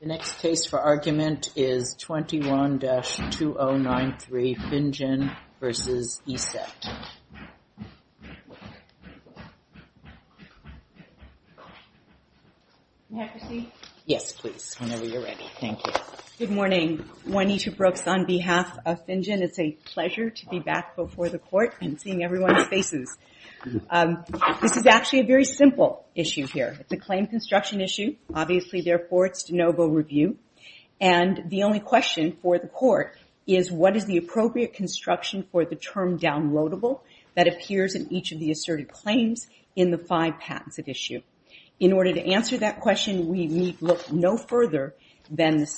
The next case for argument is 21-2093, Finjan v. ESET. May I proceed? Yes, please, whenever you're ready. Thank you. Good morning. Juanita Brooks on behalf of Finjan. It's a pleasure to be back before the court and seeing everyone's faces. This is actually a very simple issue here. It's a claim construction issue. Obviously, therefore, it's de novo review. And the only question for the court is what is the appropriate construction for the term downloadable that appears in each of the asserted claims in the five patents at issue. In order to answer that question, we need look no further than the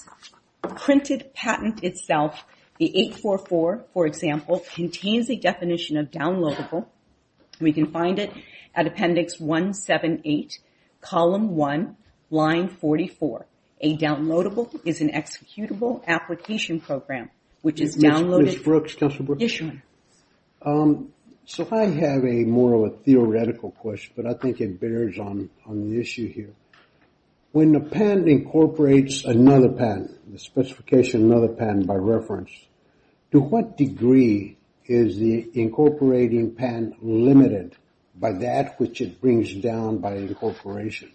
printed patent itself. The 844, for example, contains a definition of downloadable. We can find it at Appendix 178, Column 1, Line 44. A downloadable is an executable application program, which is downloaded... Ms. Brooks, Counselor Brooks? Yes, Your Honor. So I have a more of a theoretical question, but I think it bears on the issue here. When a patent incorporates another patent, the specification of another patent by reference, to what degree is the incorporating patent limited by that which it brings down by incorporation?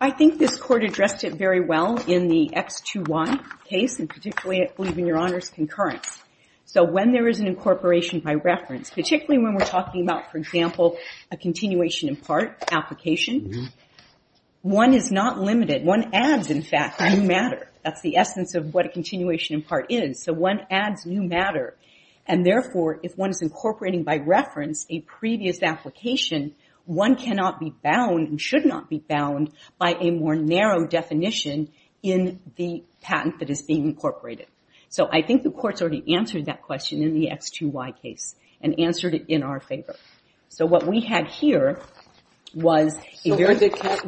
I think this court addressed it very well in the X2Y case, and particularly, I believe, in Your Honor's concurrence. So when there is an incorporation by reference, particularly when we're talking about, for example, a continuation in part application, one is not limited. One adds, in fact, a new matter. That's the essence of what a continuation in part is. So one adds new matter. And therefore, if one is incorporating by reference a previous application, one cannot be bound and should not be bound by a more narrow definition in the patent that is being incorporated. So I think the court's already answered that question in the X2Y case and answered it in our favor. So what we had here was... In the case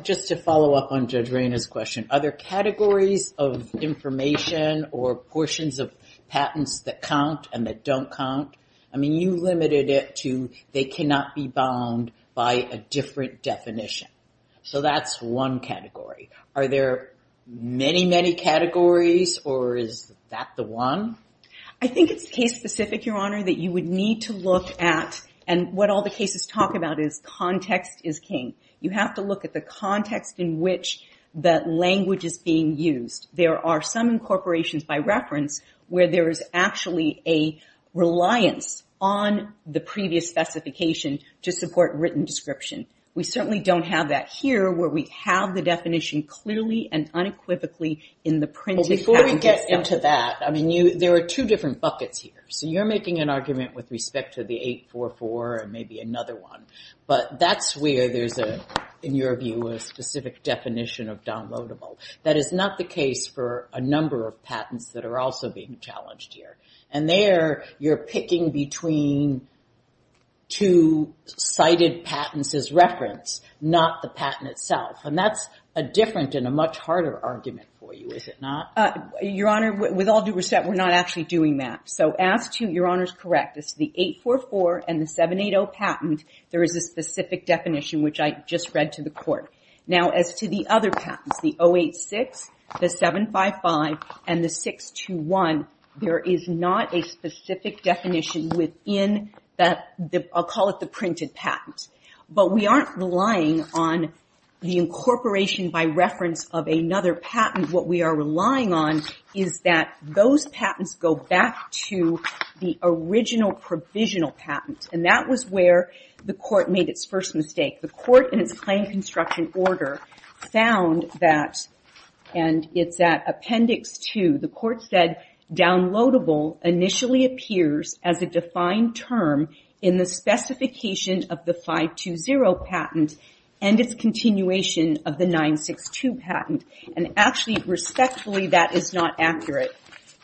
of information or portions of patents that count and that don't count, I mean, you limited it to they cannot be bound by a different definition. So that's one category. Are there many, many categories, or is that the one? I think it's case-specific, Your Honor, that you would need to look at. And what all the cases talk about is context is king. You have to look at the context in which that language is being used. There are some incorporations by reference where there is actually a reliance on the previous specification to support written description. We certainly don't have that here, where we have the definition clearly and unequivocally in the printed patent itself. Before we get into that, I mean, there are two different buckets here. So you're making an argument with respect to the 844 and maybe another one. But that's where there's, in your view, a specific definition of downloadable. That is not the case for a number of patents that are also being challenged here. And there, you're picking between two cited patents as reference, not the patent itself. And that's a different and a much harder argument for you, is it not? Your Honor, with all due respect, we're not actually doing that. So as to, your Honor's correct, as to the 844 and the 780 patent, there is a specific definition, which I just read to the court. Now, as to the other patents, the 086, the 755, and the 621, there is not a specific definition within that, I'll call it the printed patent. But we aren't relying on the incorporation by reference of another patent. What we are relying on is that those patents go back to the original provisional patent. And that was where the court made its first mistake. The court, in its claim construction order, found that, and it's at Appendix 2, the court said, downloadable initially appears as a defined term in the specification of the 520 patent and its continuation of the 962 patent. And actually, respectfully, that is not accurate.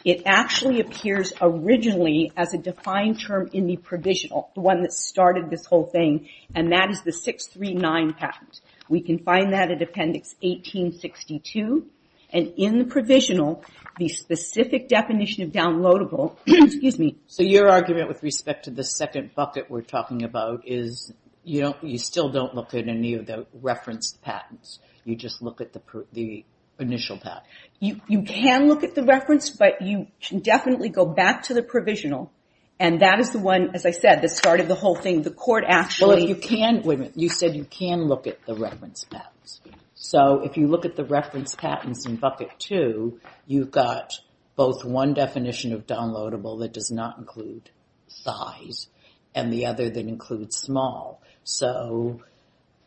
It actually appears originally as a defined term in the provisional, the one that started this whole thing, and that is the 639 patent. We can find that at Appendix 1862, and in the provisional, the specific definition of downloadable, excuse me. So your argument with respect to the second bucket we're talking about is, you still don't look at any of the referenced patents. You just look at the initial patent. You can look at the reference, but you definitely go back to the provisional, and that is the one, as I said, that started the whole thing. The court actually... Well, if you can, wait a minute. You said you can look at the reference patents. So if you look at the reference patents in Bucket 2, you've got both one definition of downloadable that does not include size and the other that includes small. So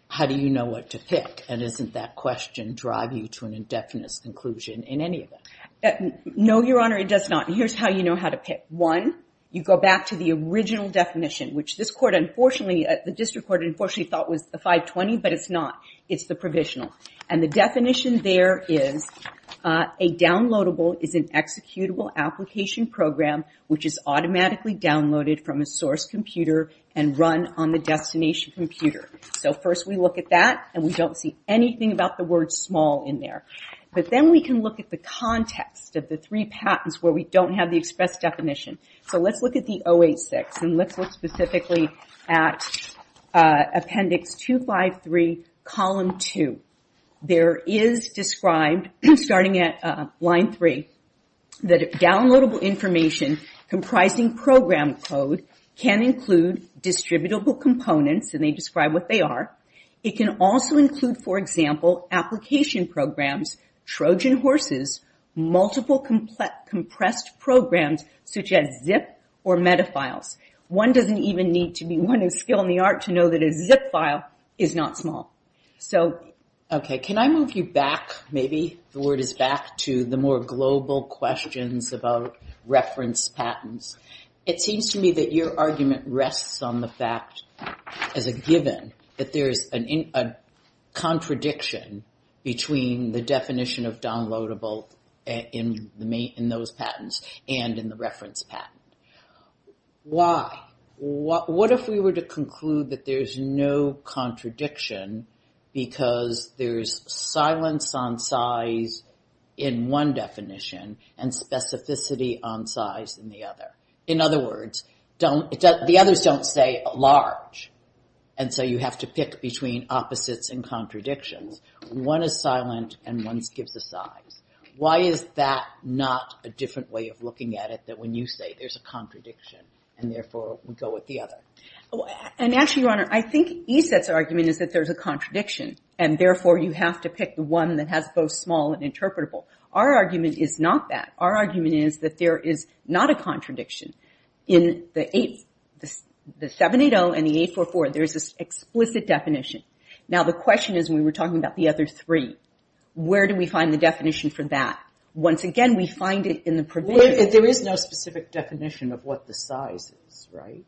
how do you know what to pick, and doesn't that question drive you to an indefinite conclusion in any of it? No, Your Honor, it does not. Here's how you know how to pick. One, you go back to the original definition, which this court unfortunately, the district court, unfortunately thought was the 520, but it's not. It's the provisional, and the definition there is, a downloadable is an executable application program which is automatically downloaded from a source computer and run on the destination computer. So first we look at that, and we don't see anything about the word small in there. But then we can look at the context of the three patents where we don't have the express definition. So let's look at the 086, and let's look specifically at appendix 253, column 2. There is described, starting at line 3, that a downloadable information comprising program code can include distributable components, and they describe what they are. It can also include, for example, application programs, Trojan horses, multiple compressed programs, such as zip or metafiles. One doesn't even need to be one of skill in the art to know that a zip file is not small. So... Okay, can I move you back maybe? The word is back to the more global questions about reference patents. It seems to me that your argument rests on the fact, as a given, that there is a contradiction between the definition of downloadable in those patents and in the reference patent. Why? What if we were to conclude that there is no contradiction because there is silence on size in one definition and specificity on size in the other? In other words, the others don't say large, and so you have to pick between opposites and contradictions. One is silent and one gives a size. Why is that not a different way of looking at it than when you say there's a contradiction and therefore we go with the other? And actually, Your Honor, I think ESET's argument is that there's a contradiction, and therefore you have to pick the one that has both small and interpretable. Our argument is not that. Our argument is that there is not a contradiction. In the 780 and the 844, there's this explicit definition. Now, the question is, when we were talking about the other three, where do we find the definition for that? Once again, we find it in the provision. There is no specific definition of what the size is, right?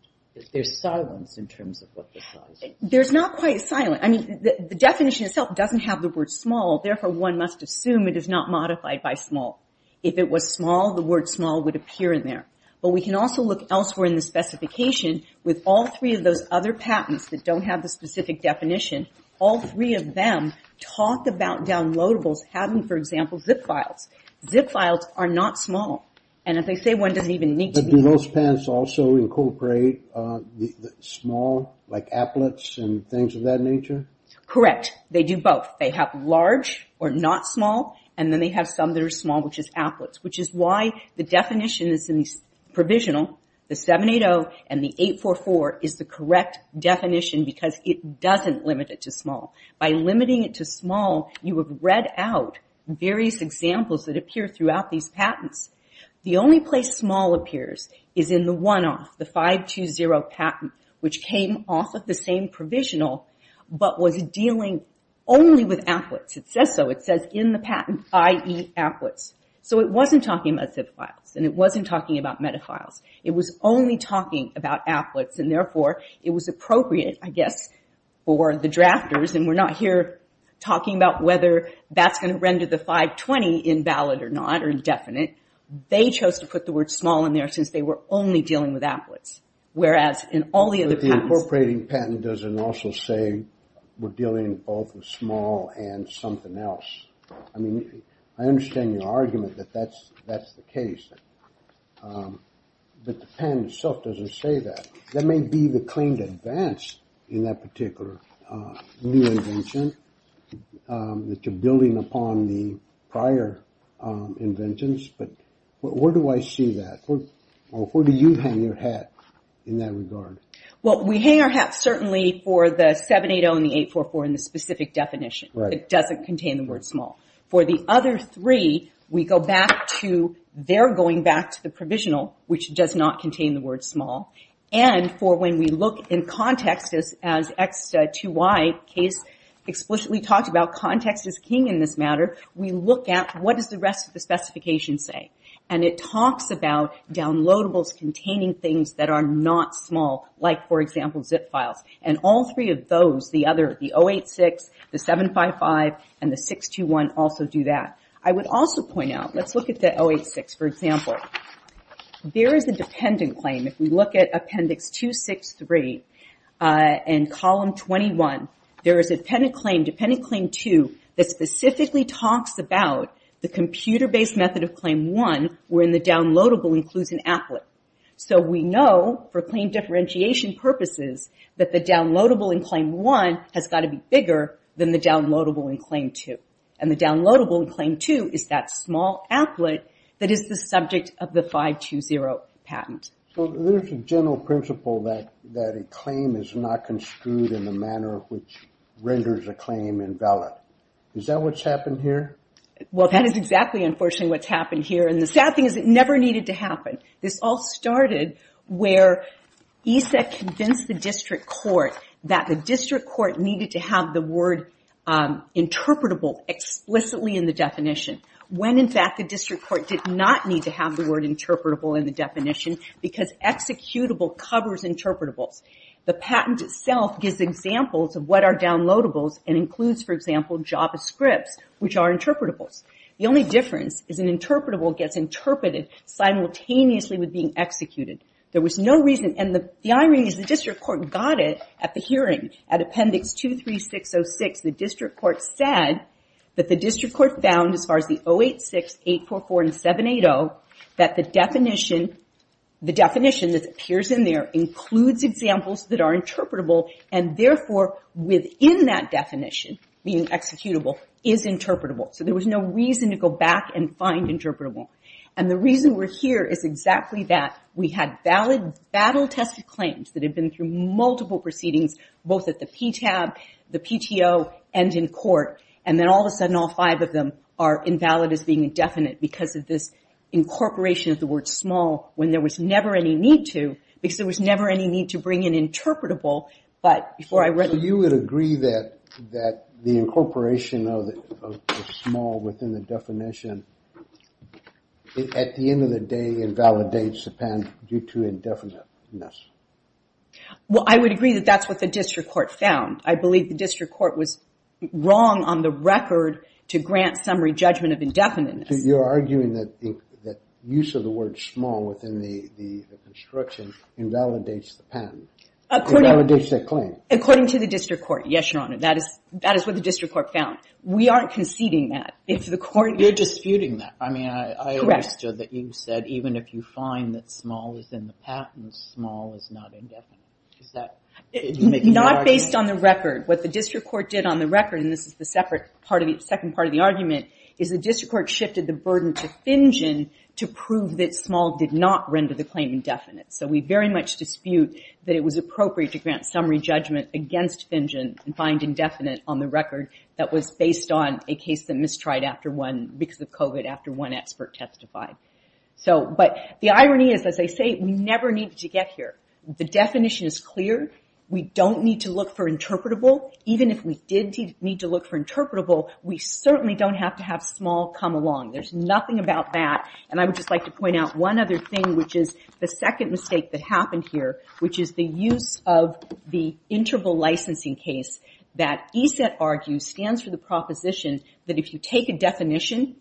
There's silence in terms of what the size is. There's not quite silence. The definition itself doesn't have the word small, therefore one must assume it is not modified by small. If it was small, the word small would appear in there. But we can also look elsewhere in the specification with all three of those other patents that don't have the specific definition. All three of them talk about downloadables having, for example, zip files. Zip files are not small. And if they say one doesn't even need to be... But do those patents also incorporate small, like applets and things of that nature? Correct. They do both. They have large or not small, and then they have some that are small, which is applets, which is why the definition is in the provisional. The 780 and the 844 is the correct definition because it doesn't limit it to small. By limiting it to small, you have read out various examples that appear throughout these patents. The only place small appears is in the one-off, the 520 patent, which came off of the same provisional but was dealing only with applets. It says so. It says in the patent, i.e., applets. So it wasn't talking about zip files, and it wasn't talking about metafiles. It was only talking about applets, and therefore it was appropriate, I guess, for the drafters, and we're not here talking about whether that's going to render the 520 invalid or not or indefinite. They chose to put the word small in there since they were only dealing with applets, whereas in all the other patents... we're dealing both with small and something else. I mean, I understand your argument that that's the case, but the patent itself doesn't say that. That may be the claim to advance in that particular new invention that you're building upon the prior inventions, but where do I see that, or where do you hang your hat in that regard? Well, we hang our hat certainly for the 780 and the 844 in the specific definition. It doesn't contain the word small. For the other three, we go back to... they're going back to the provisional, which does not contain the word small, and for when we look in context, as X2Y case explicitly talked about, context is king in this matter. We look at what does the rest of the specification say, and it talks about downloadables containing things that are not small, like, for example, zip files, and all three of those, the other... the 086, the 755, and the 621 also do that. I would also point out... let's look at the 086, for example. There is a dependent claim. If we look at Appendix 263 and Column 21, there is a dependent claim, Dependent Claim 2, that specifically talks about the computer-based method of Claim 1 where the downloadable includes an applet. So we know, for claim differentiation purposes, that the downloadable in Claim 1 has got to be bigger than the downloadable in Claim 2, and the downloadable in Claim 2 is that small applet that is the subject of the 520 patent. So there's a general principle that a claim is not construed in the manner which renders a claim invalid. Is that what's happened here? Well, that is exactly, unfortunately, what's happened here, and the sad thing is it never needed to happen. This all started where ESET convinced the district court that the district court needed to have the word interpretable explicitly in the definition when, in fact, the district court did not need to have the word interpretable in the definition because executable covers interpretables. The patent itself gives examples of what are downloadables and includes, for example, Javascripts, which are interpretables. The only difference is an interpretable gets interpreted simultaneously with being executed. There was no reason, and the irony is the district court got it at the hearing at Appendix 23606. The district court said that the district court found as far as the 086, 844, and 780 that the definition that appears in there includes examples that are interpretable, and therefore within that definition, being executable, is interpretable. There was no reason to go back and find interpretable. The reason we're here is exactly that. We had battle-tested claims that had been through multiple proceedings, both at the PTAB, the PTO, and in court, and then all of a sudden all five of them are invalid as being indefinite because of this incorporation of the word small when there was never any need to because there was never any need to bring in interpretable. You would agree that the incorporation of small within the definition at the end of the day invalidates the pen due to indefiniteness? I would agree that that's what the district court found. I believe the district court was wrong on the record to grant summary judgment of indefiniteness. You're arguing that use of the word small within the construction invalidates the patent. According to the district court, yes, Your Honor. That is what the district court found. We aren't conceding that. You're disputing that. I understood that you said even if you find that small is in the patent, small is not indefinite. Not based on the record. What the district court did on the record and this is the second part of the argument, is the district court shifted the burden to Finjen to prove that small did not render the claim indefinite. We very much dispute that it was appropriate to grant summary judgment against Finjen and find indefinite on the record that was based on a case that mistried because of COVID after one expert testified. The irony is, as I say, we never needed to get here. The definition is clear. We don't need to look for interpretable. Even if we did need to look for interpretable, we certainly don't have to have small come along. There's nothing about that. I would just like to say the second mistake that happened here, which is the use of the interval licensing case that ESET argues stands for the proposition that if you take a definition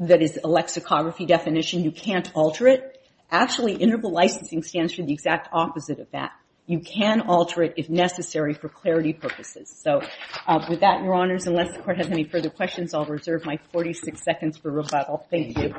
that is a lexicography definition, you can't alter it. Actually, interval licensing stands for the exact opposite of that. You can alter it if necessary for clarity purposes. With that, Your Honors, unless the court has any further questions, I'll reserve my 46 seconds for rebuttal. Thank you.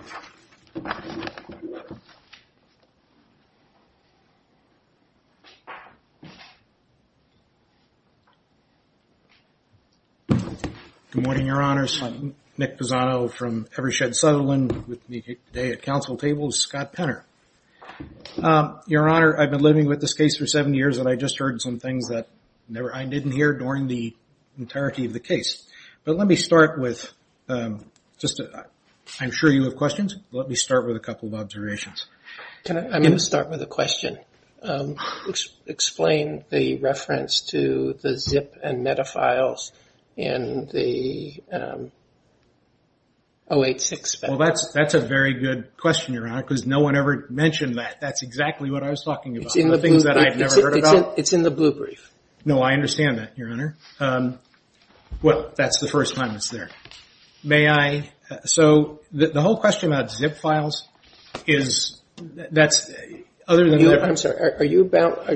Good morning, Your Honors. I'm Nick Pisano from Evershed Sutherland. With me today at council table is Scott Penner. Your Honor, I've been living with this case for seven years, and I just heard some things that I didn't hear during the entirety of the case. Let me start with just, I'm sure you have observations. I'm going to start with a couple of observations. First of all, let me start with a question. Explain the reference to the zip and meta files in the 086 file. That's a very good question, Your Honor, because no one ever mentioned that. That's exactly what I was talking about. It's in the blue brief. It's in the blue brief. No, I understand that, Your Honor. That's the first time it's there. May I? So, the whole question about zip files is other than that... I'm sorry, are you about...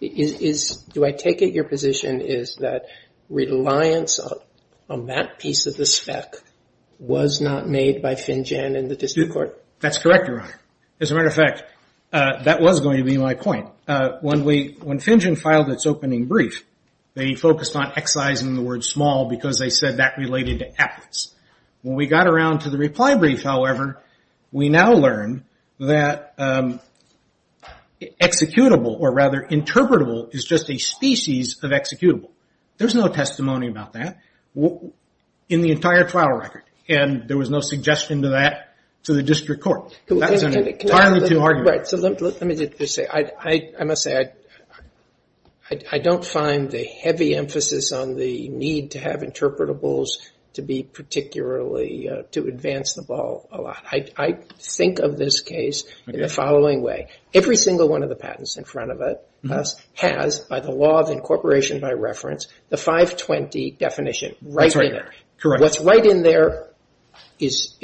Do I take it your position is that reliance on that piece of the spec was not made by Finjan in the district court? That's correct, Your Honor. As a matter of fact, that was going to be my point. When Finjan filed its opening brief, they focused on excising the word small because they said that related to aptness. When we got around to the reply brief, however, we now learn that executable, or rather interpretable, is just a species of executable. There's no testimony about that in the entire trial record, and there was no suggestion to that to the district court. That's an entirely true argument. Let me just say, I must say I don't find the heavy emphasis on the need to have interpretables to be particularly to advance the ball a lot. I think of this case in the following way. Every single one of the patents in front of us has, by the law of incorporation by reference, the 520 definition. What's right in there is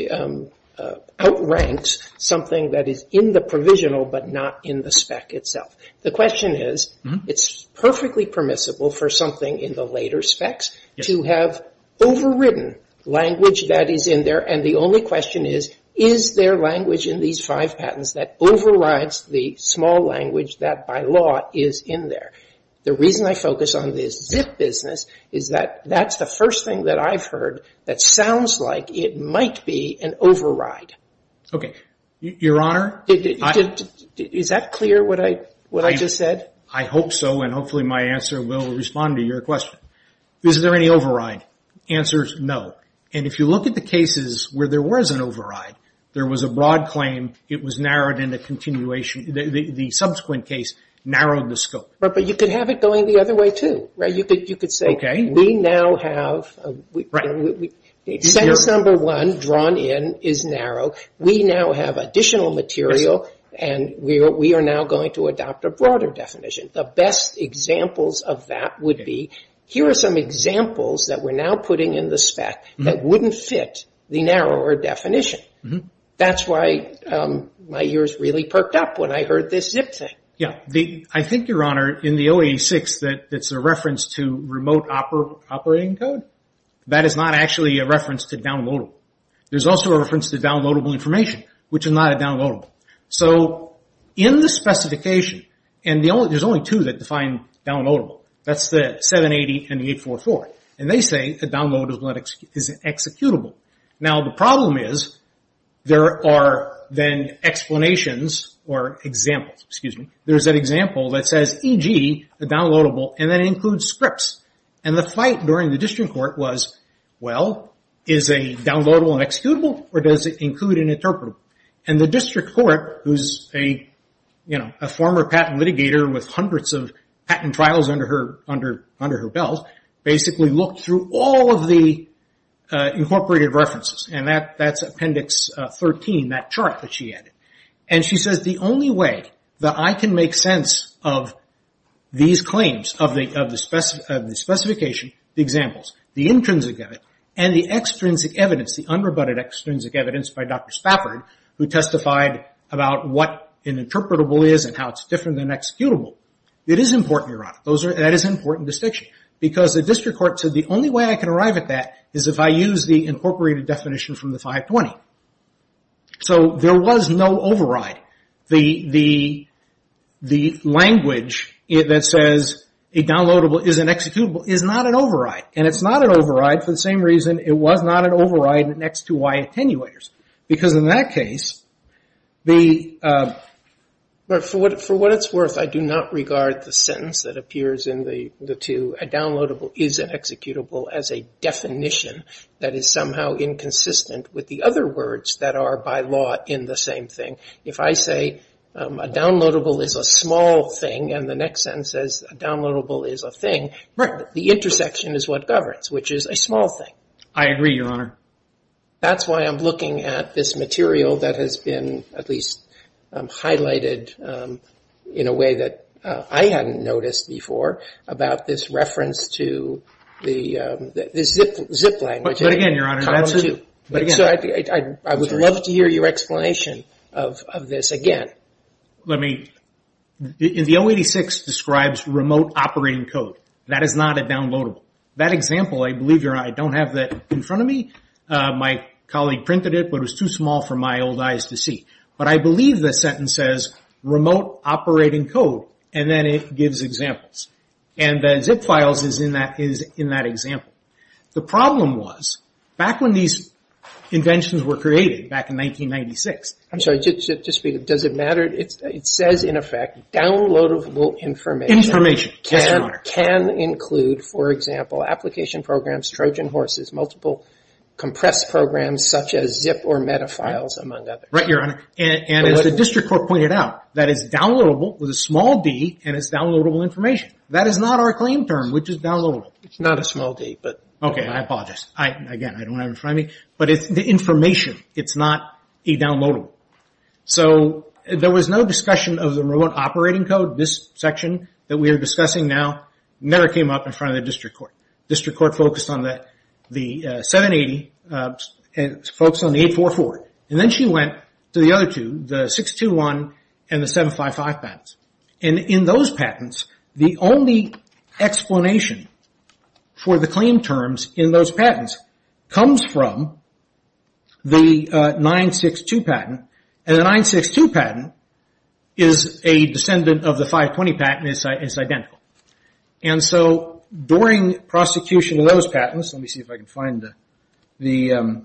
outranks something that is in the provisional but not in the spec itself. The question is it's perfectly permissible for something in the later specs to have overridden language that is in there, and the only question is, is there language in these five patents that overrides the small language that by law is in there? The reason I focus on this zip business is that that's the first thing that I've heard that sounds like it might be an override. Okay. Your Honor? Is that clear what I just said? I hope so, and hopefully my answer will respond to your question. Is there any override? The answer is no. If you look at the cases where there was an override, there was a broad claim it was narrowed in the continuation. The subsequent case narrowed the scope. But you could have it going the other way, too. You could say we now have sentence number one drawn in is narrow. We now have additional material and we are now going to adopt a broader definition. The best examples of that would be, here are some examples that we're now putting in the spec that wouldn't fit the narrower definition. That's why my ears really perked up when I heard this zip thing. I think, Your Honor, in the 086 that's a reference to remote operating code, that is not actually a reference to downloadable. There's also a reference to downloadable information, which is not a downloadable. In the 082 that defined downloadable. That's the 780 and the 844. They say a downloadable is an executable. The problem is, there are then explanations or examples. There's an example that says, e.g., a downloadable, and that includes scripts. The fight during the district court was, well, is a downloadable an executable or does it include an interpretable? The district court, who's a former patent litigator with hundreds of patent trials under her belt, basically looked through all of the incorporated references. That's Appendix 13, that chart that she added. She says, the only way that I can make sense of these claims of the specification, the examples, the intrinsic of it, and the extrinsic evidence, the unrebutted extrinsic evidence by Dr. Spafford, who testified about what an interpretable is and how it's different than an executable. It is important, Your Honor. That is an important distinction. The district court said, the only way I can arrive at that is if I use the incorporated definition from the 520. There was no override. The language that says, a downloadable is an executable, is not an override. It's not an override for the same reason it was not an override next to Y attenuators. Because in that case, the For what it's worth, I do not regard the sentence that appears in the two, a downloadable is an executable, as a definition that is somehow inconsistent with the other words that are by law in the same thing. If I say, a downloadable is a small thing, and the next sentence says, a downloadable is a thing, the intersection is what governs, which is a small thing. I agree, Your Honor. That's why I'm looking at this material that has been at least highlighted in a way that I hadn't noticed before about this reference to the zip language. But again, Your Honor. I would love to hear your explanation of this again. Let me The 086 describes remote operating code. That is not a downloadable. That example, I believe I don't have that in front of me. My colleague printed it, but it was too small for my old eyes to see. But I believe the sentence says, remote operating code, and then it gives examples. And zip files is in that example. The problem was, back when these inventions were created, back in 1996 I'm sorry, just a minute. Does it matter? It says, in effect, downloadable information can include, for example, application programs, Trojan horses, multiple compressed programs, such as zip or metafiles, among others. Right, Your Honor. And as the district court pointed out, that is downloadable with a small d and is downloadable information. That is not our claim term, which is downloadable. It's not a small d, but... Okay, I apologize. Again, I don't have it in front of me. But it's the information. It's not a downloadable. There was no discussion of the remote operating code. This section that we had in the district court. The district court focused on the 780 and focused on the 844. And then she went to the other two, the 621 and the 755 patents. And in those patents, the only explanation for the claim terms in those patents comes from the 962 patent. And the 962 patent is a descendant of the 520 patent. It's identical. And so, during prosecution of those patents, let me see if I can find the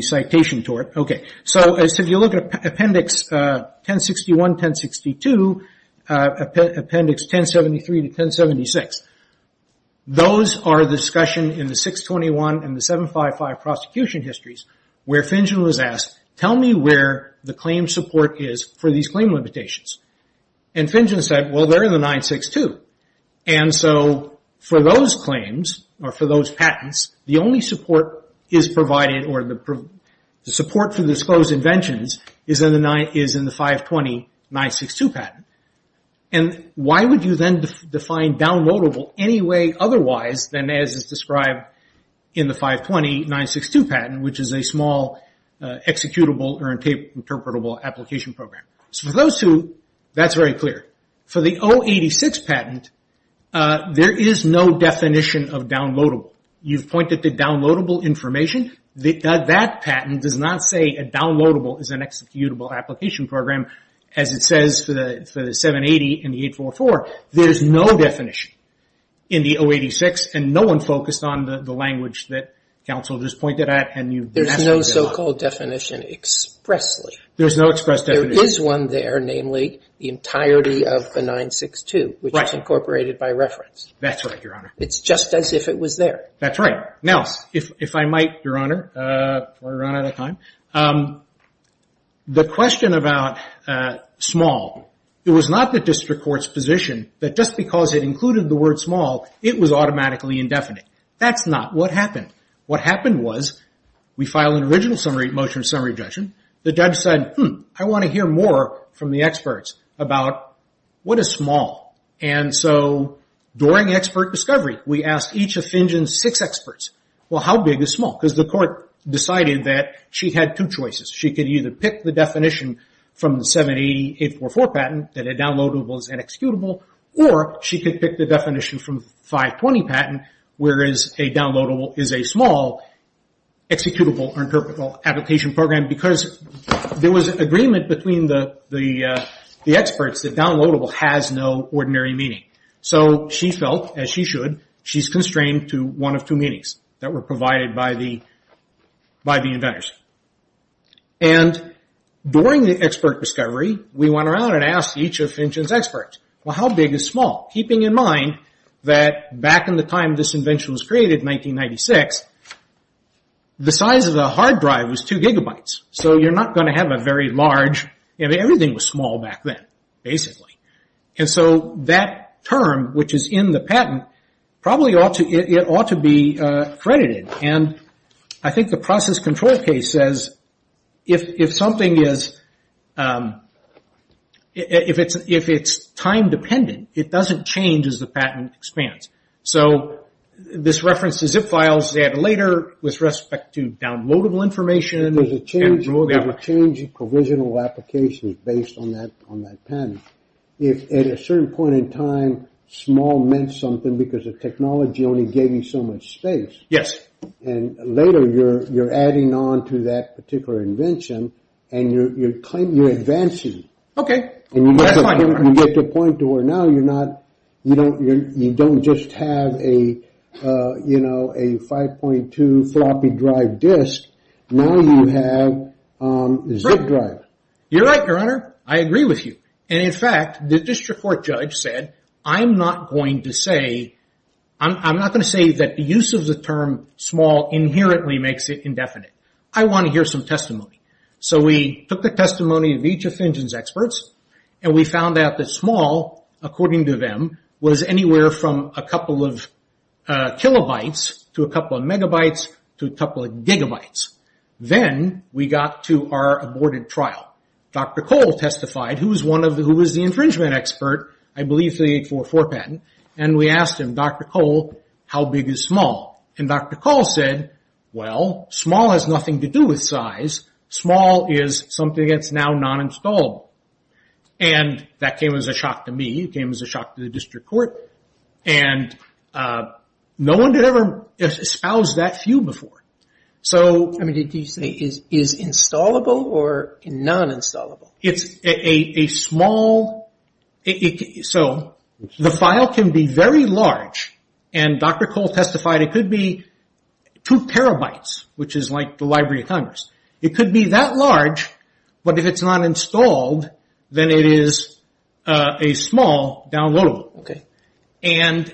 citation to it. Okay. So, as you look at appendix 1061, 1062, appendix 1073 to 1076, those are the discussion in the 621 and the 755 prosecution histories where Finjen was asked, tell me where the claim support is for these claim limitations. And Finjen said, well, they're in the 962. And so, for those claims, or for those patents, the only support is provided, or the support for the disclosed inventions is in the 520 962 patent. And why would you then define downloadable any way otherwise than as is described in the 520 962 patent, which is a small executable or interpretable application program. So, for those two, that's very clear. For the 086 patent, there is no definition of downloadable. You've pointed to downloadable information. That patent does not say a downloadable is an executable application program as it says for the 780 and the 844. There's no definition in the 086, and no one focused on the language that counsel just pointed at, and you've... There's no so-called definition expressly. There's no express definition. There is one there, namely, the entirety of the 962, which is incorporated by reference. That's right, Your Honor. It's just as if it was there. That's right. Now, if I might, Your Honor, before I run out of time, the question about small, it was not the district court's position that just because it included the word small, it was automatically indefinite. That's not what happened. What happened was we filed an original motion of summary objection. The judge said, I want to hear more from the experts about what is small. And so, during expert discovery, we asked each of Finjen's six experts, well, how big is small? Because the court decided that she had two choices. She could either pick the definition from the 780, 844 patent, that a downloadable is an executable, or she could pick the definition from the 520 patent, whereas a downloadable is a small, executable or interpretable application program because there was agreement between the experts that downloadable has no ordinary meaning. So she felt, as she should, she's constrained to one of two meanings that were provided by the inventors. And during the expert discovery, we went around and asked each of Finjen's experts, well, how big is small? Keeping in mind that back in the time this invention was created, 1996, the size of the hard drive was two gigabytes. So you're not going to have a very large and everything was small back then, basically. And so, that term, which is in the patent, probably ought to be credited. And I think the process control case says, if something is time dependent, it doesn't change as the patent expands. So this references zip files later with respect to downloadable information. There's a change in provisional applications based on that patent. If at a certain point in time, small meant something because the technology only gave you so much space. Yes. And later, you're adding on to that particular invention and you're advancing. Okay. That's fine. You get to a point to where now you don't just have a 5.2 floppy drive disk. Now you have zip drive. You're right, Your Honor. I agree with you. And in fact, the district court judge said, I'm not going to say that the use of the term small inherently makes it indefinite. I want to hear some testimony. So we took the testimony of each of that small, according to them, was anywhere from a couple of kilobytes to a couple of megabytes to a couple of gigabytes. Then we got to our aborted trial. Dr. Cole testified, who was the infringement expert, I believe for the 844 patent, and we asked him, Dr. Cole, how big is small? And Dr. Cole said, well, small has nothing to do with size. Small is something that's now non-installable. And that came as a shock to me. It came as a shock to the district court. And no one had ever espoused that view before. I mean, did he say, is installable or non-installable? It's a small... So the file can be very large, and Dr. Cole testified it could be two terabytes, which is like the Library of Congress. It could be that large, but if it's not installed, then it is a small downloadable. And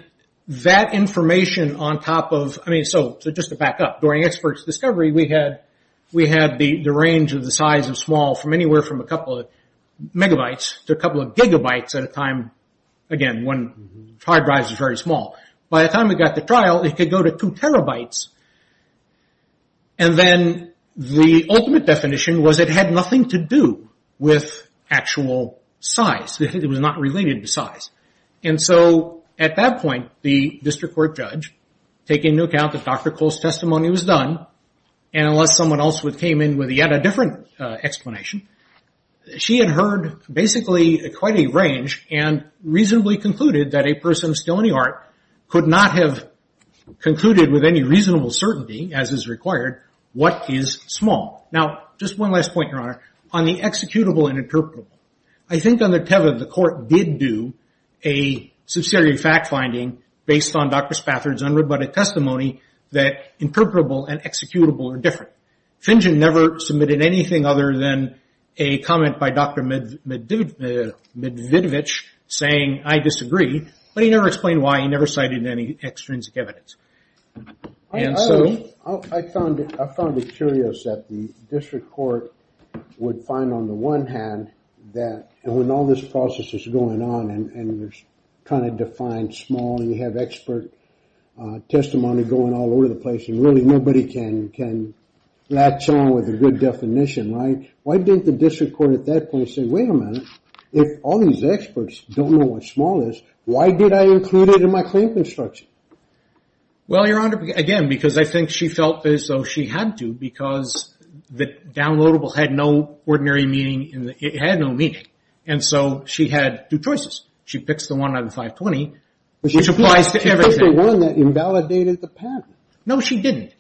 that information on top of... So just to back up, during its first discovery we had the range of the size of small from anywhere from a couple of megabytes to a couple of gigabytes at a time. Again, one hard drive is very small. By the time we got the trial, it could go to two terabytes. And then the ultimate definition was it had nothing to do with actual size. It was not related to size. And so, at that point, the district court judge, taking into account that Dr. Cole's testimony was done, and unless someone else came in with yet a different explanation, she had heard basically quite a range, and reasonably concluded that a person still in the art could not have concluded with any reasonable certainty, as is required, what is small. Now, just one last point, Your Honor. On the executable and interpretable, I think under Tevin, the court did do a subsidiary fact-finding based on Dr. Spafford's unrobotic testimony that interpretable and executable are different. Fingen never submitted anything other than a comment by Dr. Medvedevich saying, I disagree, but he never explained why. He never cited any extrinsic evidence. And so... I found it curious that the district court would find, on the one hand, that when all this process is going on, and there's kind of defined small, and you have expert testimony going all over the place, and really nobody can latch on with a good definition, right? Why didn't the district court at that point say, wait a minute, if all these experts don't know what small is, why did I include it in my claim construction? Well, Your Honor, again, because I think she felt as though she had to, because the downloadable had no ordinary meaning, it had no meaning, and so she had two choices. She picks the one out of 520, which applies to everything. She picked the one that invalidated the pattern. No, she didn't.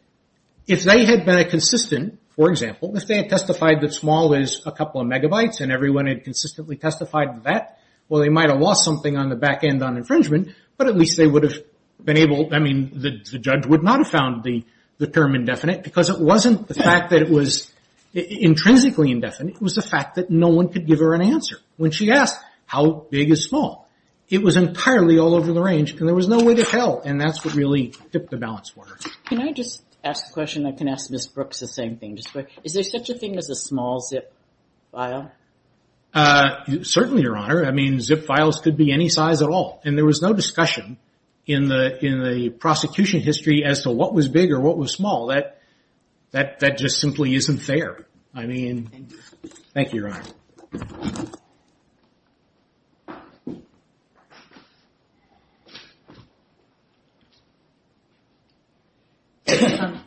If they had been consistent, for example, if they had testified that small is a couple of megabytes, and everyone had consistently testified that, well, they might have lost something on the back end on infringement, but at least they would have been able, I mean, the judge would not have found the term indefinite, because it wasn't the fact that it was intrinsically indefinite. It was the fact that no one could give her an answer when she asked, how big is small? It was entirely all over the range, and there was no way to tell, and that's what really tipped the balance for her. Can I just ask a question? I can ask Ms. Brooks the same thing. Is there such a thing as a small zip file? Certainly, Your Honor. I mean, zip files could be any size at all, and there was no discussion in the prosecution history as to what was big or what was small. That just simply isn't fair. Thank you, Your Honor.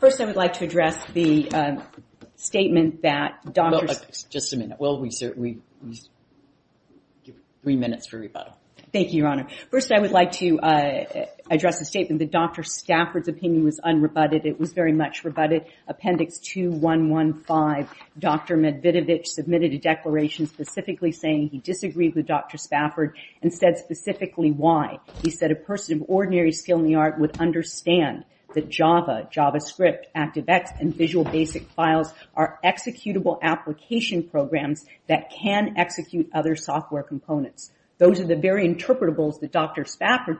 the statement that doctors... Just a minute. Well, we certainly... Three minutes for rebuttal. Thank you, Your Honor. First, I would like to address the statement that Dr. Stafford's opinion was unrebutted. It was very much rebutted. Appendix 2 115. Dr. Medvedevich submitted a declaration specifically saying he disagreed with Dr. Stafford and said specifically why. He said a person of ordinary skill in the art would understand that Java, JavaScript, ActiveX, and Visual Basic files are executable application programs that can execute other software components. Those are the very interpretables that Dr. Stafford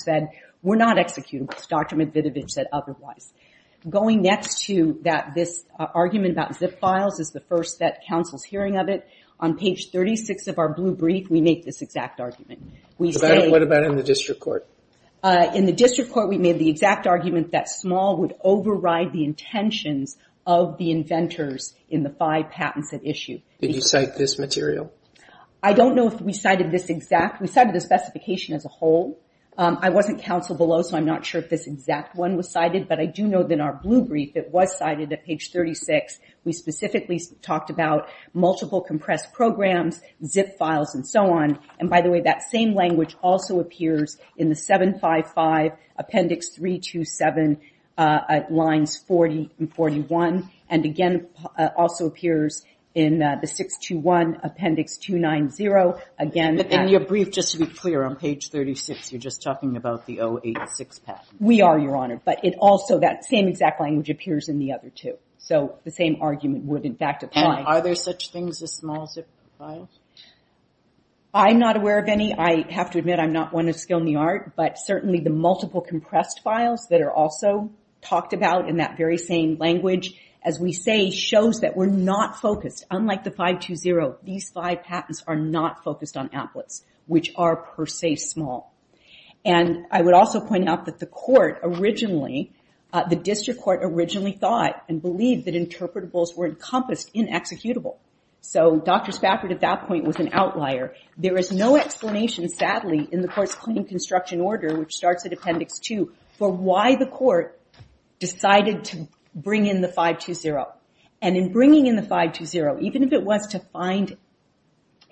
said were not executables. Dr. Medvedevich said otherwise. Going next to this argument about zip files is the first that counsel's hearing of it. On page 36 of our blue brief, we make this exact argument. What about in the district court? In the district court, we made the exact argument that small would override the intentions of the inventors in the five patents that issue. Did you cite this material? I don't know if we cited this exact. We cited the specification as a whole. I wasn't counsel below, so I'm not sure if this exact one was cited, but I do know that in our blue brief, it was cited at page 36. We specifically talked about multiple compressed programs, zip files, and so on. By the way, that same language also appears in the 755 Appendix 327 lines 40 and 41, and again, also appears in the 621 Appendix 290. In your brief, just to be clear, on page 36, you're just talking about the 086 patent. We are, Your Honor, but it also, that same exact language appears in the other two. The same argument would, in fact, apply. Are there such things as small zip files? I'm not aware of any. I have to admit, I'm not one of skill in the art, but certainly the multiple compressed files that are also talked about in that very same language, as we say, shows that we're not focused. Unlike the 520, these five patents are not focused on applets, which are, per se, small. I would also point out that the court originally, the district court originally thought and believed that interpretables were encompassed in executable. Dr. Spafford, at that point, was an outlier. There is no explanation, sadly, in the court's Claim Construction Order, which starts at Appendix 2, for why the court decided to bring in the 520. And in bringing in the 520, even if it was to find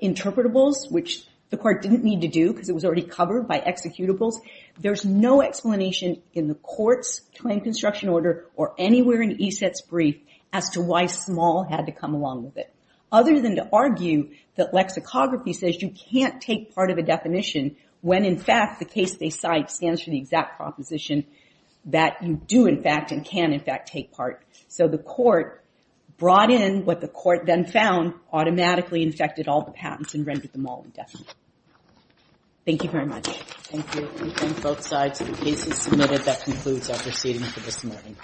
interpretables, which the court didn't need to do because it was already covered by executables, there's no explanation in the court's Claim Construction Order or anywhere in ESET's brief as to why small had to come along with it. Other than to argue that lexicography says you can't take part of a definition when, in fact, the case they cite stands for the exact proposition that you do, in fact, and can, in fact, take part. So the court brought in what the court then found, automatically infected all the patents and rendered them all indefinite. Thank you very much. Thank you. We thank both sides. The case is submitted. That concludes our proceeding for this morning.